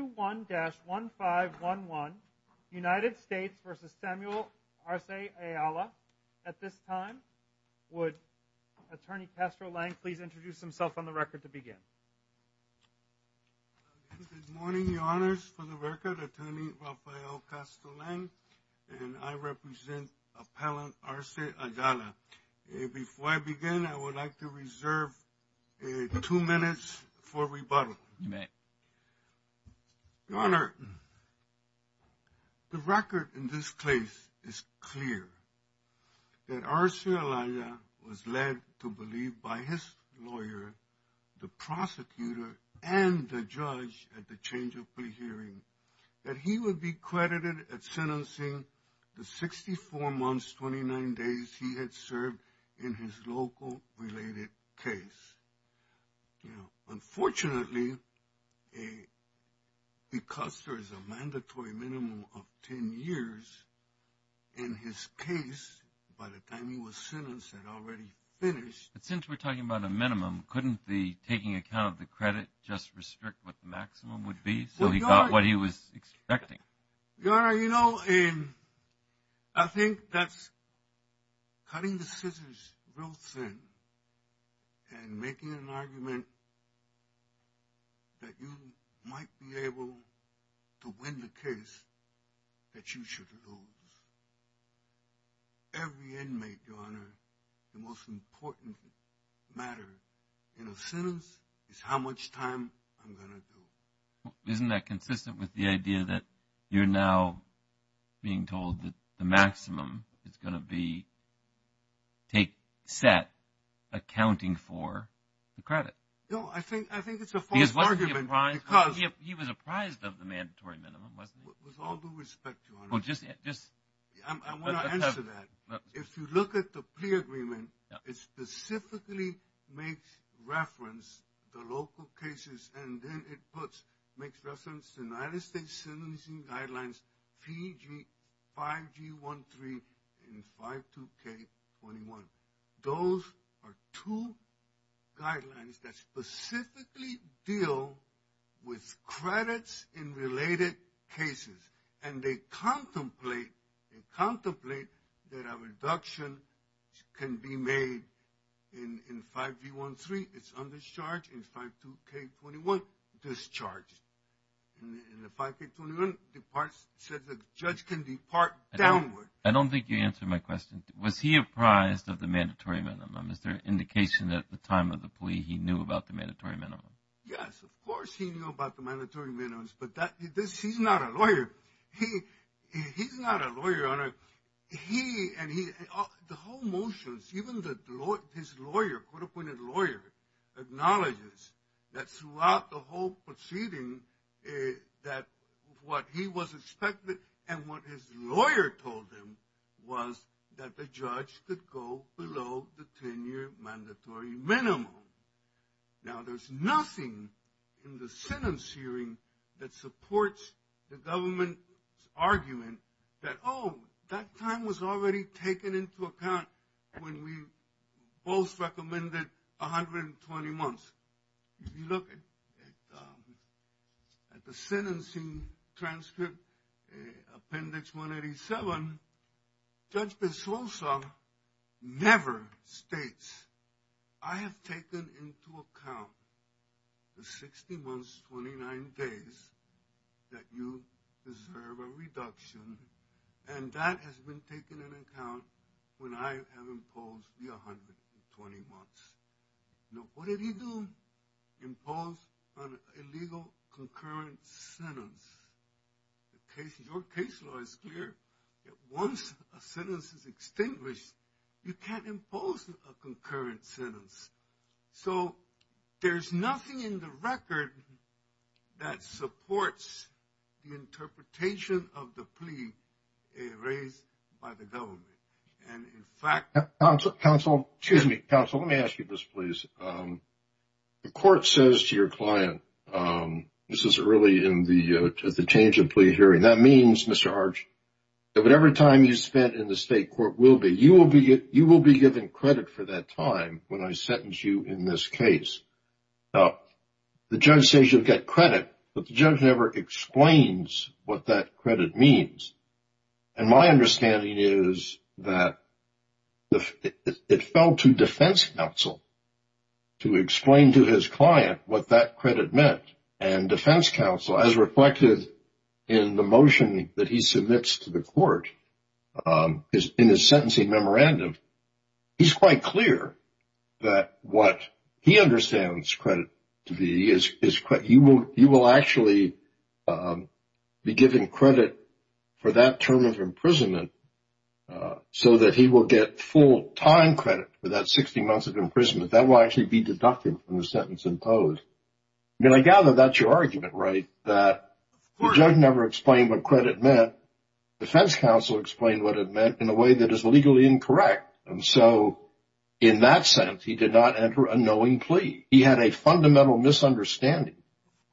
21-1511 United States versus Samuel Arce Ayala at this time. Would attorney Castro-Lang please introduce himself on the record to begin. Good morning your honors for the record attorney Rafael Castro-Lang and I represent appellant Arce Ayala. Before I begin I would like to reserve two minutes for rebuttal. You may. Your honor the record in this case is clear that Arce Ayala was led to believe by his lawyer the prosecutor and the judge at the change of plea hearing that he would be credited at sentencing the 64 months 29 days he had served in his local related case. You know unfortunately a because there is a mandatory minimum of 10 years in his case by the time he was sentenced had already finished. But since we're talking about a minimum couldn't the taking account of the credit just restrict what the maximum would be so he got what he was expecting. Your honor you know in I think that's cutting the scissors real thin and making an argument that you might be able to win the case that you should lose. Every inmate your honor the most important matter in a sentence is how much time I'm gonna do. Isn't that consistent with the idea that you're now being told that the maximum is going to be take set accounting for the credit? No I think I think it's a false argument. Because he was apprised of the mandatory minimum wasn't he? With all due respect your honor. Well just just I want to answer that. If you look at the plea agreement it specifically makes reference the local cases and then it puts makes reference to United States sentencing guidelines 5G13 and 52k21. Those are two guidelines that specifically deal with credits in related cases and they contemplate and contemplate that a reduction can be made in in 5G13. It's under charge in 52k21 discharged and the 5k21 departs said the judge can depart downward. I don't think you answered my question. Was he apprised of the mandatory minimum? Is there an indication at the time of the plea he knew about the mandatory minimum? Yes of course he knew about the mandatory minimums that this he's not a lawyer. He he's not a lawyer. He and he the whole motions even the law his lawyer court-appointed lawyer acknowledges that throughout the whole proceeding that what he was expected and what his lawyer told him was that the judge could go below the the government's argument that oh that time was already taken into account when we both recommended 120 months. If you look at at the sentencing transcript appendix 187 Judge Pesosa never states I have taken into account the 60 months 29 days that you deserve a reduction and that has been taken into account when I have imposed the 120 months. Now what did he do? Impose an illegal concurrent sentence. The case your case law is clear that once a sentence is extinguished you can't impose a concurrent sentence. So there's nothing in the record that supports the interpretation of the plea raised by the government and in fact counsel counsel excuse me counsel let me ask you this please. The court says to your client this is really in the the change of plea hearing that means Mr. Arch that whatever time you spent in the state court will be you will be you will be given credit for that time when I sentence you in this case. Now the judge says you'll get credit but the judge never explains what that credit means and my understanding is that it fell to defense counsel to explain to his client what that credit meant and defense counsel as reflected in the motion that he submits to the court is in his sentencing memorandum he's quite clear that what he understands credit to be is is quite he will he will actually be given credit for that term of imprisonment so that he will get full time credit for that 60 months of imprisonment that will actually be deducted from the sentence imposed. Then I gather that's your argument right that the judge never explained what credit meant defense counsel explained what it meant in a way that is legally incorrect and so in that sense he did not enter a knowing plea. He had a fundamental misunderstanding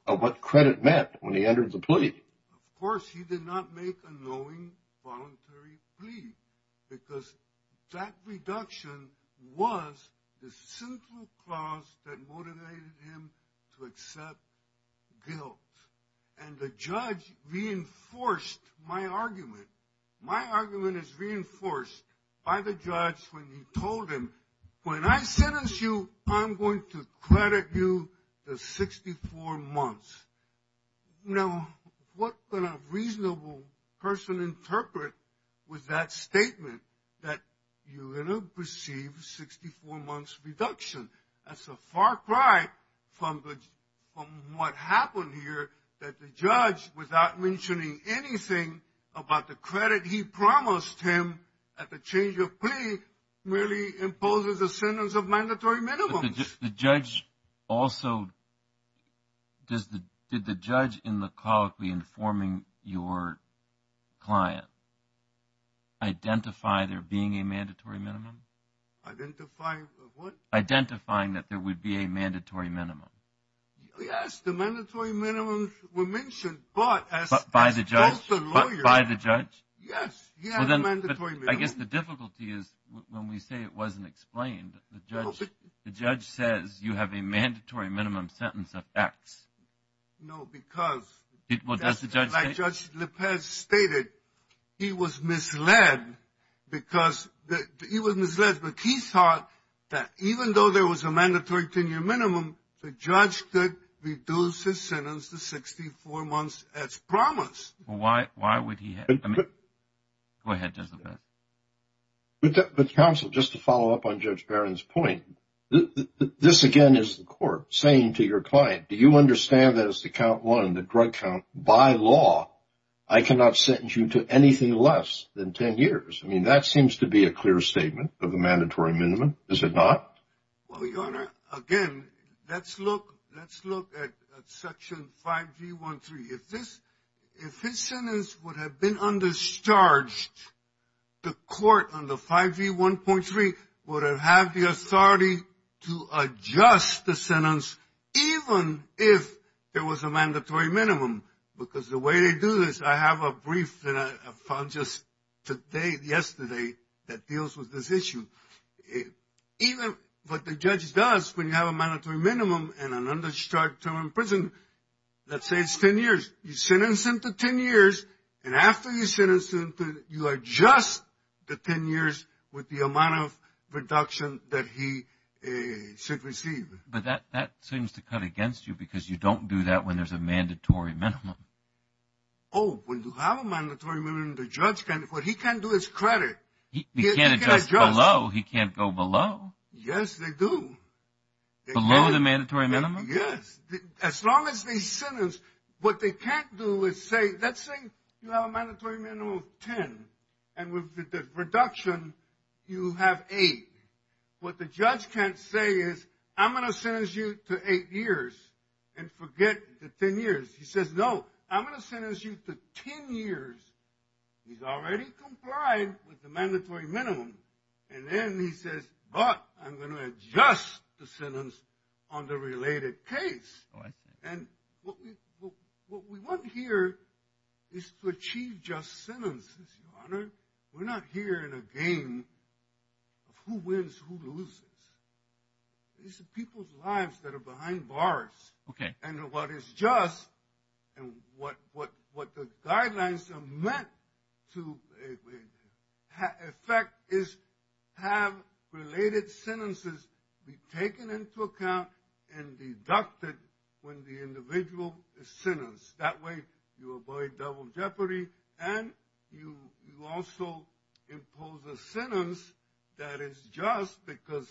of what credit meant when he entered the plea. Of course he did not make a knowing voluntary plea because that reduction was the simple clause that motivated him to accept guilt and the judge reinforced my argument. My argument is reinforced by the judge when he told him when I sentence you I'm going to credit you the 64 months. Now what can a reasonable person interpret with that statement that you're going to receive 64 months reduction that's a far cry from the from what happened here that the judge without mentioning anything about the credit he promised him at the change of plea merely imposes a sentence of mandatory minimums. The judge also did the judge in the colloquy informing your client identify there being a mandatory minimum identify what identifying that there would be a mandatory minimum yes the mandatory minimums were mentioned but by the judge but by the judge yes yes I guess the difficulty is when we say it acts no because it well does the judge like judge lopez stated he was misled because that he was misled but he thought that even though there was a mandatory 10-year minimum the judge could reduce his sentence to 64 months as promised why why would he go ahead just a bit but the council just to follow up on judge barron's point this again is the court saying to your client do you understand that it's the count one the drug count by law I cannot sentence you to anything less than 10 years I mean that seems to be a clear statement of the mandatory minimum is it not well your honor again let's look let's look at section 5v13 if this if his sentence would have been undercharged the court on the 5v1.3 would have had the authority to adjust the sentence even if there was a mandatory minimum because the way they do this I have a brief and I found just today yesterday that deals with this issue even what the judge does when you have a mandatory minimum and an undercharged term in prison let's say it's 10 years you sentence him to 10 years and after you sentence him to you are just the 10 years with the amount of reduction that he should receive but that that seems to cut against you because you don't do that when there's a mandatory minimum oh when you have a mandatory minimum the judge can what he can do is credit he can't adjust below he can't go below yes they do below the mandatory minimum yes as long as they sentence what they can't do is say let's say you have a mandatory minimum of 10 and with the reduction you have eight what the judge can't say is I'm going to sentence you to eight years and forget the 10 years he says no I'm going to sentence you to 10 years he's already complied with the mandatory minimum and then he says but I'm going to adjust the sentence on the related case and what we what we want here is to achieve just sentences your honor we're not here in a game of who wins who loses these are people's lives that are behind bars okay and what is just and what what what the guidelines are meant to affect is have related sentences be taken into account and deducted when the individual is sentenced that way you avoid double jeopardy and you you also impose a sentence that is just because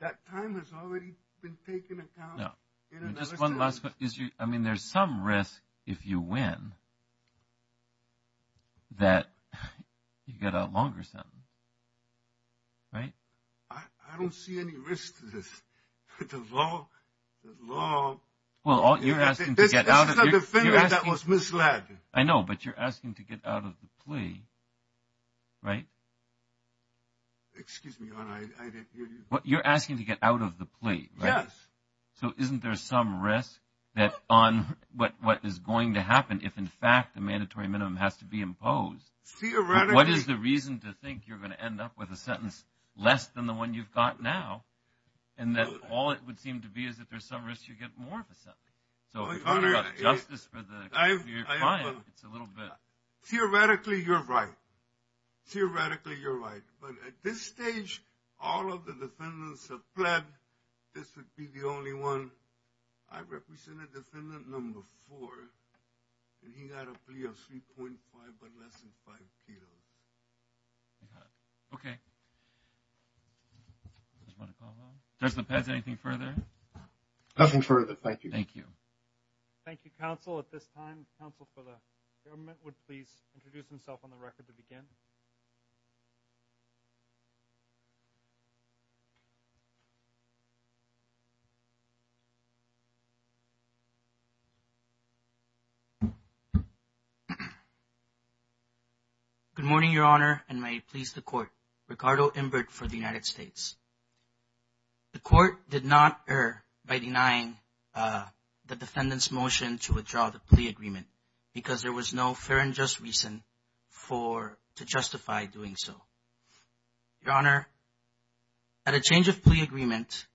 that time has already been taken account I mean there's some risk if you win that you get a longer sentence right I don't see any risk to this the law the law well all you're asking to get out of the thing that was misled I know but you're asking to get out of the plea right excuse me your honor I didn't hear you what you're asking to get out of the plea yes so isn't there some risk that on what what is going to happen if in fact the mandatory minimum has to be imposed theoretically what is the reason to think you're going to end up with a sentence less than the one you've got now and that all it would seem to be is that there's some risk you get more of a sentence so justice for the client it's a little bit theoretically you're right theoretically you're right but at this stage all of the defendants have pled this would be the only one I represented defendant number four and he got a plea of 3.5 but less than five kilos okay does the pez anything further nothing further thank you thank you thank you counsel at this time counsel for the government would please introduce himself on the record good morning your honor and may please the court ricardo imbert for the united states the court did not err by denying uh the defendant's motion to withdraw the plea agreement because there was no fair and just reason for to justify doing so your honor at a change of agreement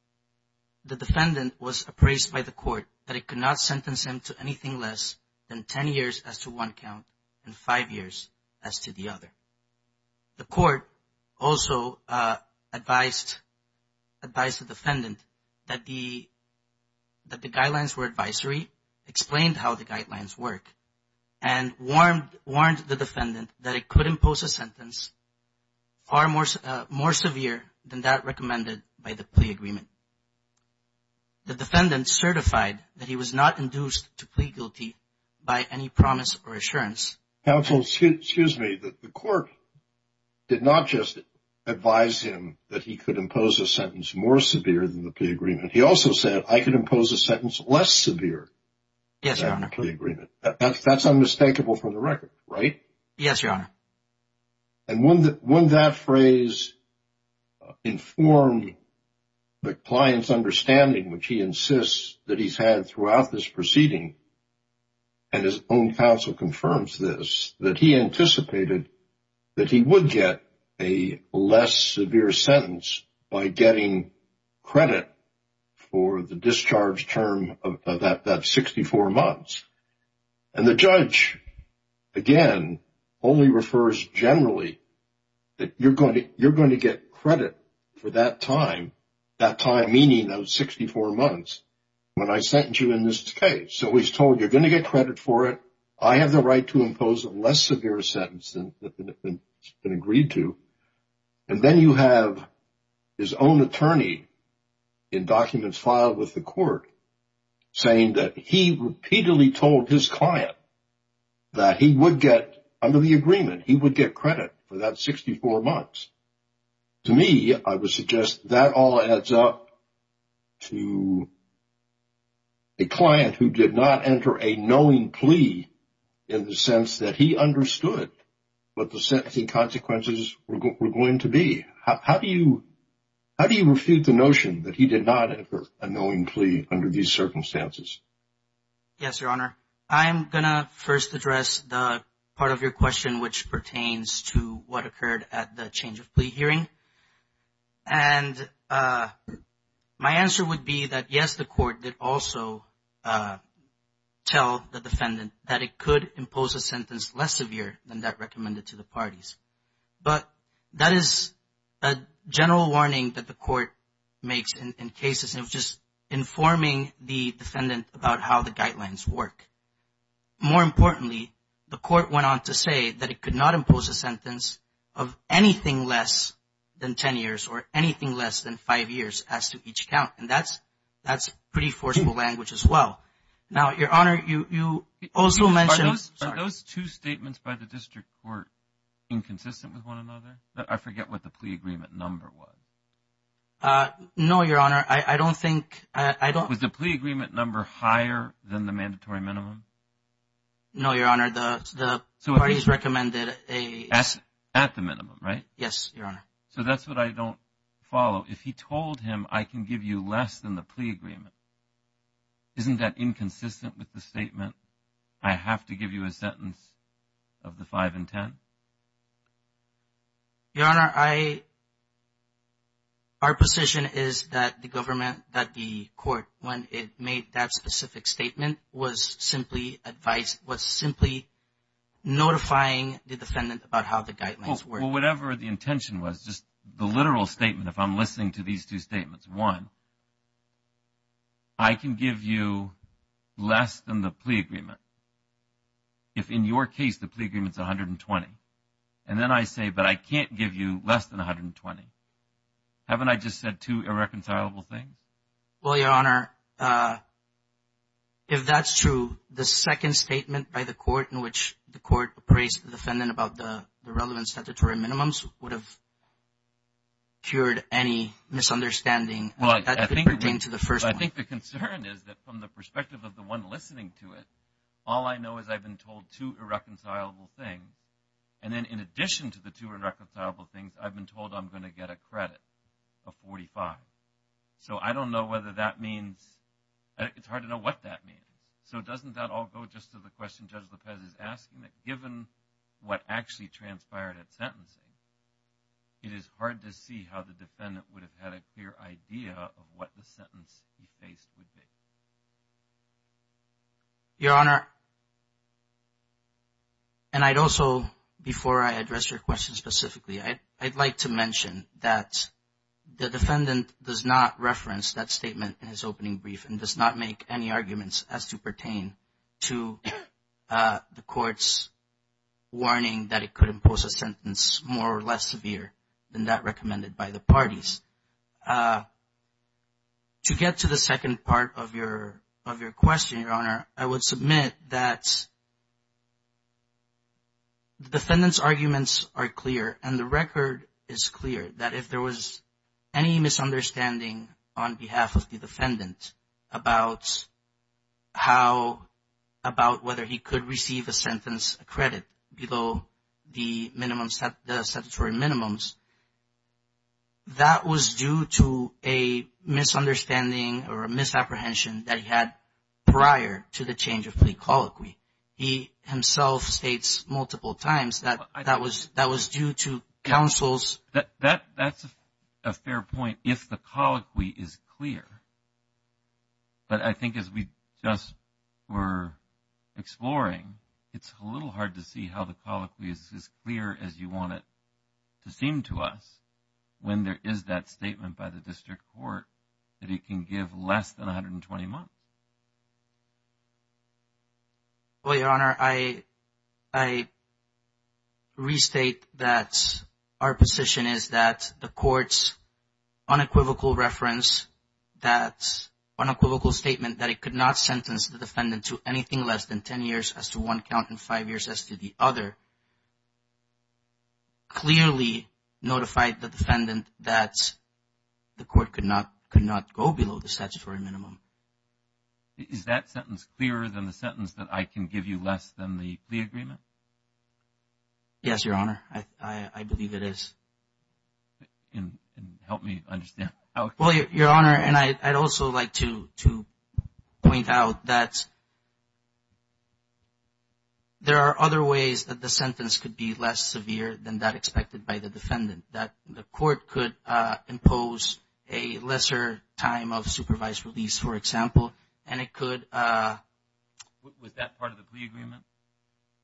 the defendant was appraised by the court that it could not sentence him to anything less than 10 years as to one count and five years as to the other the court also uh advised advised the defendant that the that the guidelines were advisory explained how the guidelines work and warned warned the defendant that it could impose a sentence far more more severe than that plea agreement the defendant certified that he was not induced to plead guilty by any promise or assurance counsel excuse me that the court did not just advise him that he could impose a sentence more severe than the plea agreement he also said i could impose a sentence less severe yes your honor agreement that's that's unmistakable from the record right yes your honor and one that phrase informed the client's understanding which he insists that he's had throughout this proceeding and his own counsel confirms this that he anticipated that he would get a less severe sentence by getting credit for the discharge term of that that 64 months and the judge again only refers generally that you're going to you're going to get credit for that time that time meaning those 64 months when i sent you in this case so he's told you're going to get credit for it i have the right to impose a less severe sentence than it's been agreed to and then you have his own attorney in documents filed with the court saying that he repeatedly told his client that he would get under the agreement he would get credit for that 64 months to me i would suggest that all adds up to a client who did not enter a knowing plea in the sense that he understood what the sentencing consequences were going to be how do you how do you refute the notion that he did not enter a knowing plea under these circumstances yes your honor i'm gonna first address the part of your question which pertains to what occurred at the change of plea hearing and uh my answer would be that yes the court did also uh tell the defendant that it could impose a sentence less severe than that recommended to the parties but that is a general warning that court makes in cases of just informing the defendant about how the guidelines work more importantly the court went on to say that it could not impose a sentence of anything less than 10 years or anything less than five years as to each count and that's that's pretty forceful language as well now your honor you you also mentioned those two statements by the district court inconsistent with one another that i forget what the plea agreement number was uh no your honor i i don't think i don't was the plea agreement number higher than the mandatory minimum no your honor the the parties recommended a at the minimum right yes your honor so that's what i don't follow if he told him i can give you less than the plea agreement isn't that inconsistent with the statement i have to give you a sentence of the five and ten your honor i our position is that the government that the court when it made that specific statement was simply advised was simply notifying the defendant about how the guidelines were whatever the intention was just the literal statement if i'm listening to these two statements one i can give you less than the plea agreement if in your case the plea agreement is 120 and then i say but i can't give you less than 120 haven't i just said two irreconcilable things well your honor uh if that's true the second statement by the court in which the court appraised the defendant about the the relevant statutory minimums would have cured any misunderstanding well i think we're going to the first i think the concern is that from the perspective of the one listening to it all i know is i've been told two irreconcilable things then in addition to the two irreconcilable things i've been told i'm going to get a credit of 45 so i don't know whether that means it's hard to know what that means so doesn't that all go just to the question judge lopez is asking that given what actually transpired at sentencing it is hard to see how the defendant would have had a clear idea of what the sentence he faced would be your honor and i'd also before i address your question specifically i i'd like to mention that the defendant does not reference that statement in his opening brief and does not make any arguments as to pertain to uh the court's warning that it could impose a sentence more or less severe than that i would submit that the defendant's arguments are clear and the record is clear that if there was any misunderstanding on behalf of the defendant about how about whether he could receive a sentence credit below the minimum set the statutory minimums that was due to a misunderstanding or a misapprehension that he had prior to the change of plea colloquy he himself states multiple times that that was that was due to counsel's that that that's a fair point if the colloquy is clear but i think as we just were exploring it's a little hard to see how the colloquy is as clear as you want it to seem to us when there is that statement by the district court that it can give less than 120 months well your honor i i restate that our position is that the court's unequivocal reference that unequivocal statement that it could not sentence the defendant to anything less than as to one count in five years as to the other clearly notified the defendant that the court could not could not go below the statutory minimum is that sentence clearer than the sentence that i can give you less than the the agreement yes your honor i i believe it is and help me understand well your honor and i i'd also like to to point out that there are other ways that the sentence could be less severe than that expected by the defendant that the court could uh impose a lesser time of supervised release for example and it could uh was that part of the plea agreement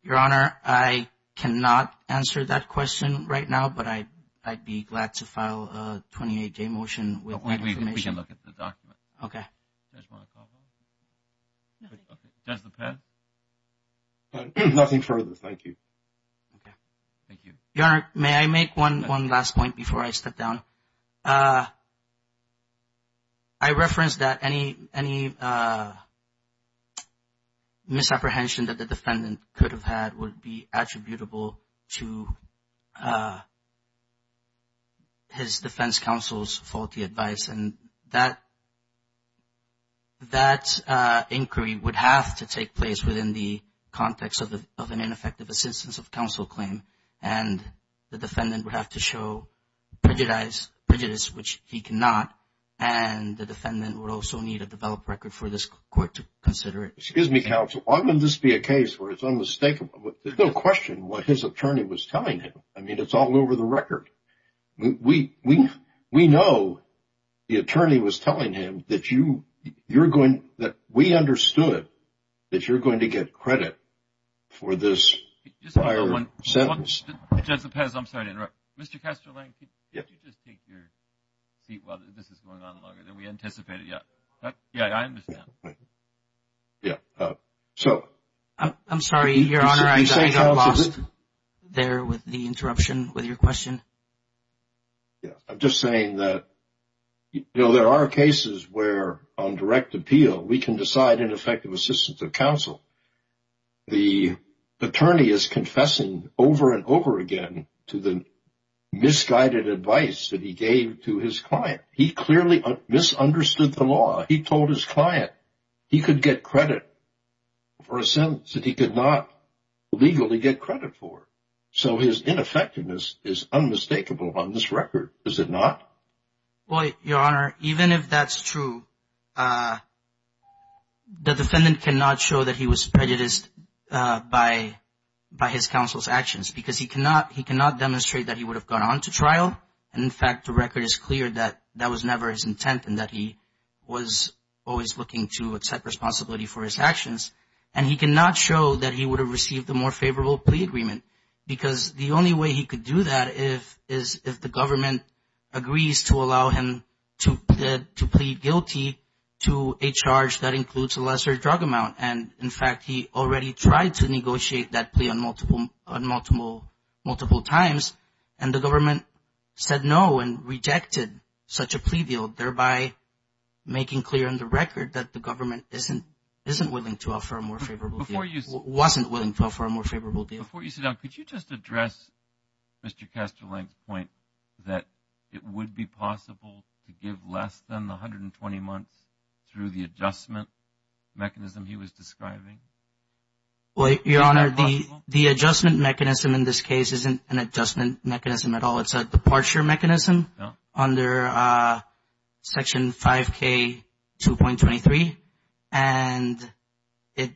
your honor i cannot answer that question right now but i i'd be glad to file a 28-day motion with we can look at the document okay does the pen nothing further thank you okay thank you your honor may i make one one last point before i step down uh i referenced that any any uh misapprehension that the defendant could have had would be attributable to uh his defense counsel's faulty advice and that that uh inquiry would have to take place within the context of the of an ineffective assistance of counsel claim and the defendant would have to show prejudice prejudice which he cannot and the defendant would also need a develop record for this court to consider it excuse me counsel why wouldn't this be a case where it's unmistakable there's no question what his attorney was telling him i mean it's all over the record we we we know the attorney was telling him that you you're going that we understood that you're going to get credit for this sentence i'm sorry to interrupt mr casterling could you just take your seat while this is going on longer than we anticipated yeah yeah i understand thank you yeah uh so i'm sorry your honor i got lost there with the interruption with your question yeah i'm just saying that you know there are cases where on direct appeal we can decide ineffective assistance of counsel the attorney is confessing over and over again to the misguided advice that he gave to his client he clearly misunderstood the law he told his client he could get credit for a sentence that he could not legally get credit for so his ineffectiveness is unmistakable on this record is it not well your honor even if that's true uh the defendant cannot show that he was prejudiced uh by by his counsel's actions because he cannot he cannot demonstrate that he would have gone on to trial and in fact the record is clear that that was never his intent and that he was always looking to accept responsibility for his actions and he cannot show that he would have received a more favorable plea agreement because the only way he could do that if is if the government agrees to allow him to to plead guilty to a charge that includes a lesser drug amount and in fact he already tried to negotiate that plea on multiple on multiple multiple times and the government said no and rejected such a plea deal thereby making clear on the record that the government isn't isn't willing to offer a more favorable before you wasn't willing to offer a more favorable deal before you sit down could you just address mr casterling's point that it would be possible to give less than 120 months through the adjustment mechanism he was describing well your honor the the adjustment mechanism in this case isn't an adjustment mechanism at all it's a departure mechanism under uh section 5k 2.23 and it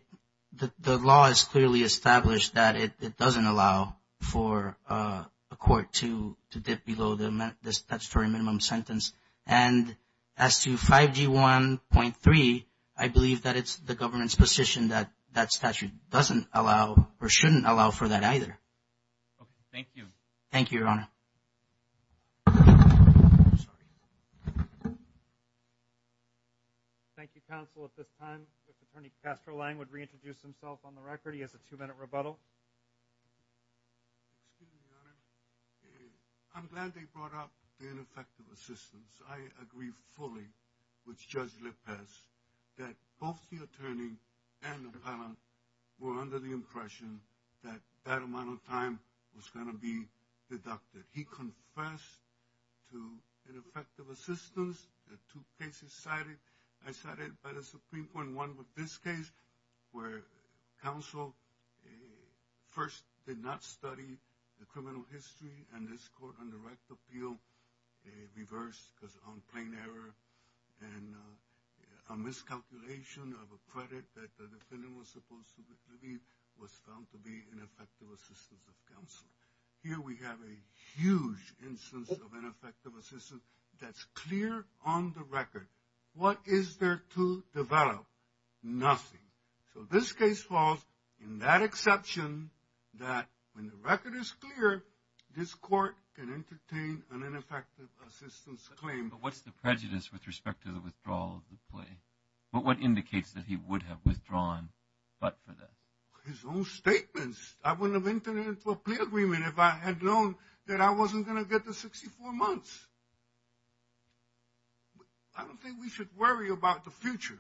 the law is clearly established that it it doesn't allow for uh a court to to dip below the this statutory minimum sentence and as to 5g 1.3 i believe that it's the government's position that that statute doesn't allow or shouldn't allow for that either okay thank you thank you your honor thank you counsel at this time attorney castroline would reintroduce himself on the record he has a two-minute rebuttal i'm glad they brought up the ineffective assistance i agree fully with judge that both the attorney and the palant were under the impression that that amount of time was going to be deducted he confessed to ineffective assistance the two cases cited i cited by the supreme point one with this case where counsel first did not study the criminal history and a miscalculation of a credit that the defendant was supposed to be was found to be an effective assistance of counsel here we have a huge instance of ineffective assistance that's clear on the record what is there to develop nothing so this case falls in that exception that when the record is clear this court can entertain an ineffective assistance claim but what's the prejudice with respect to the withdrawal of the play but what indicates that he would have withdrawn but for that his own statements i wouldn't have entered into a plea agreement if i had known that i wasn't going to get the 64 months i don't think we should worry about the future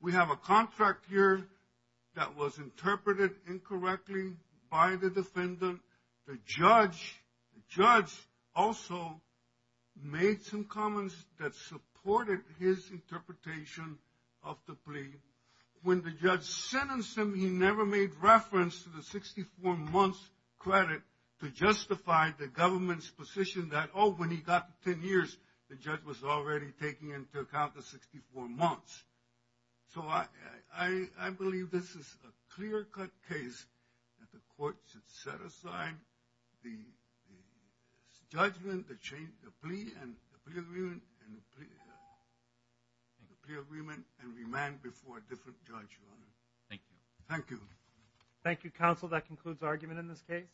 we have a contract here that was interpreted incorrectly by the defendant the judge the judge also made some comments that supported his interpretation of the plea when the judge sentenced him he never made reference to the 64 months credit to justify the government's position that oh when he got to 10 years the judge was already taking into account the 64 months so i i i believe this is a clear-cut case that the court should set aside the judgment the change the plea and the plea agreement and the plea agreement and remand before a different judge your honor thank you thank you thank you counsel that concludes argument in this case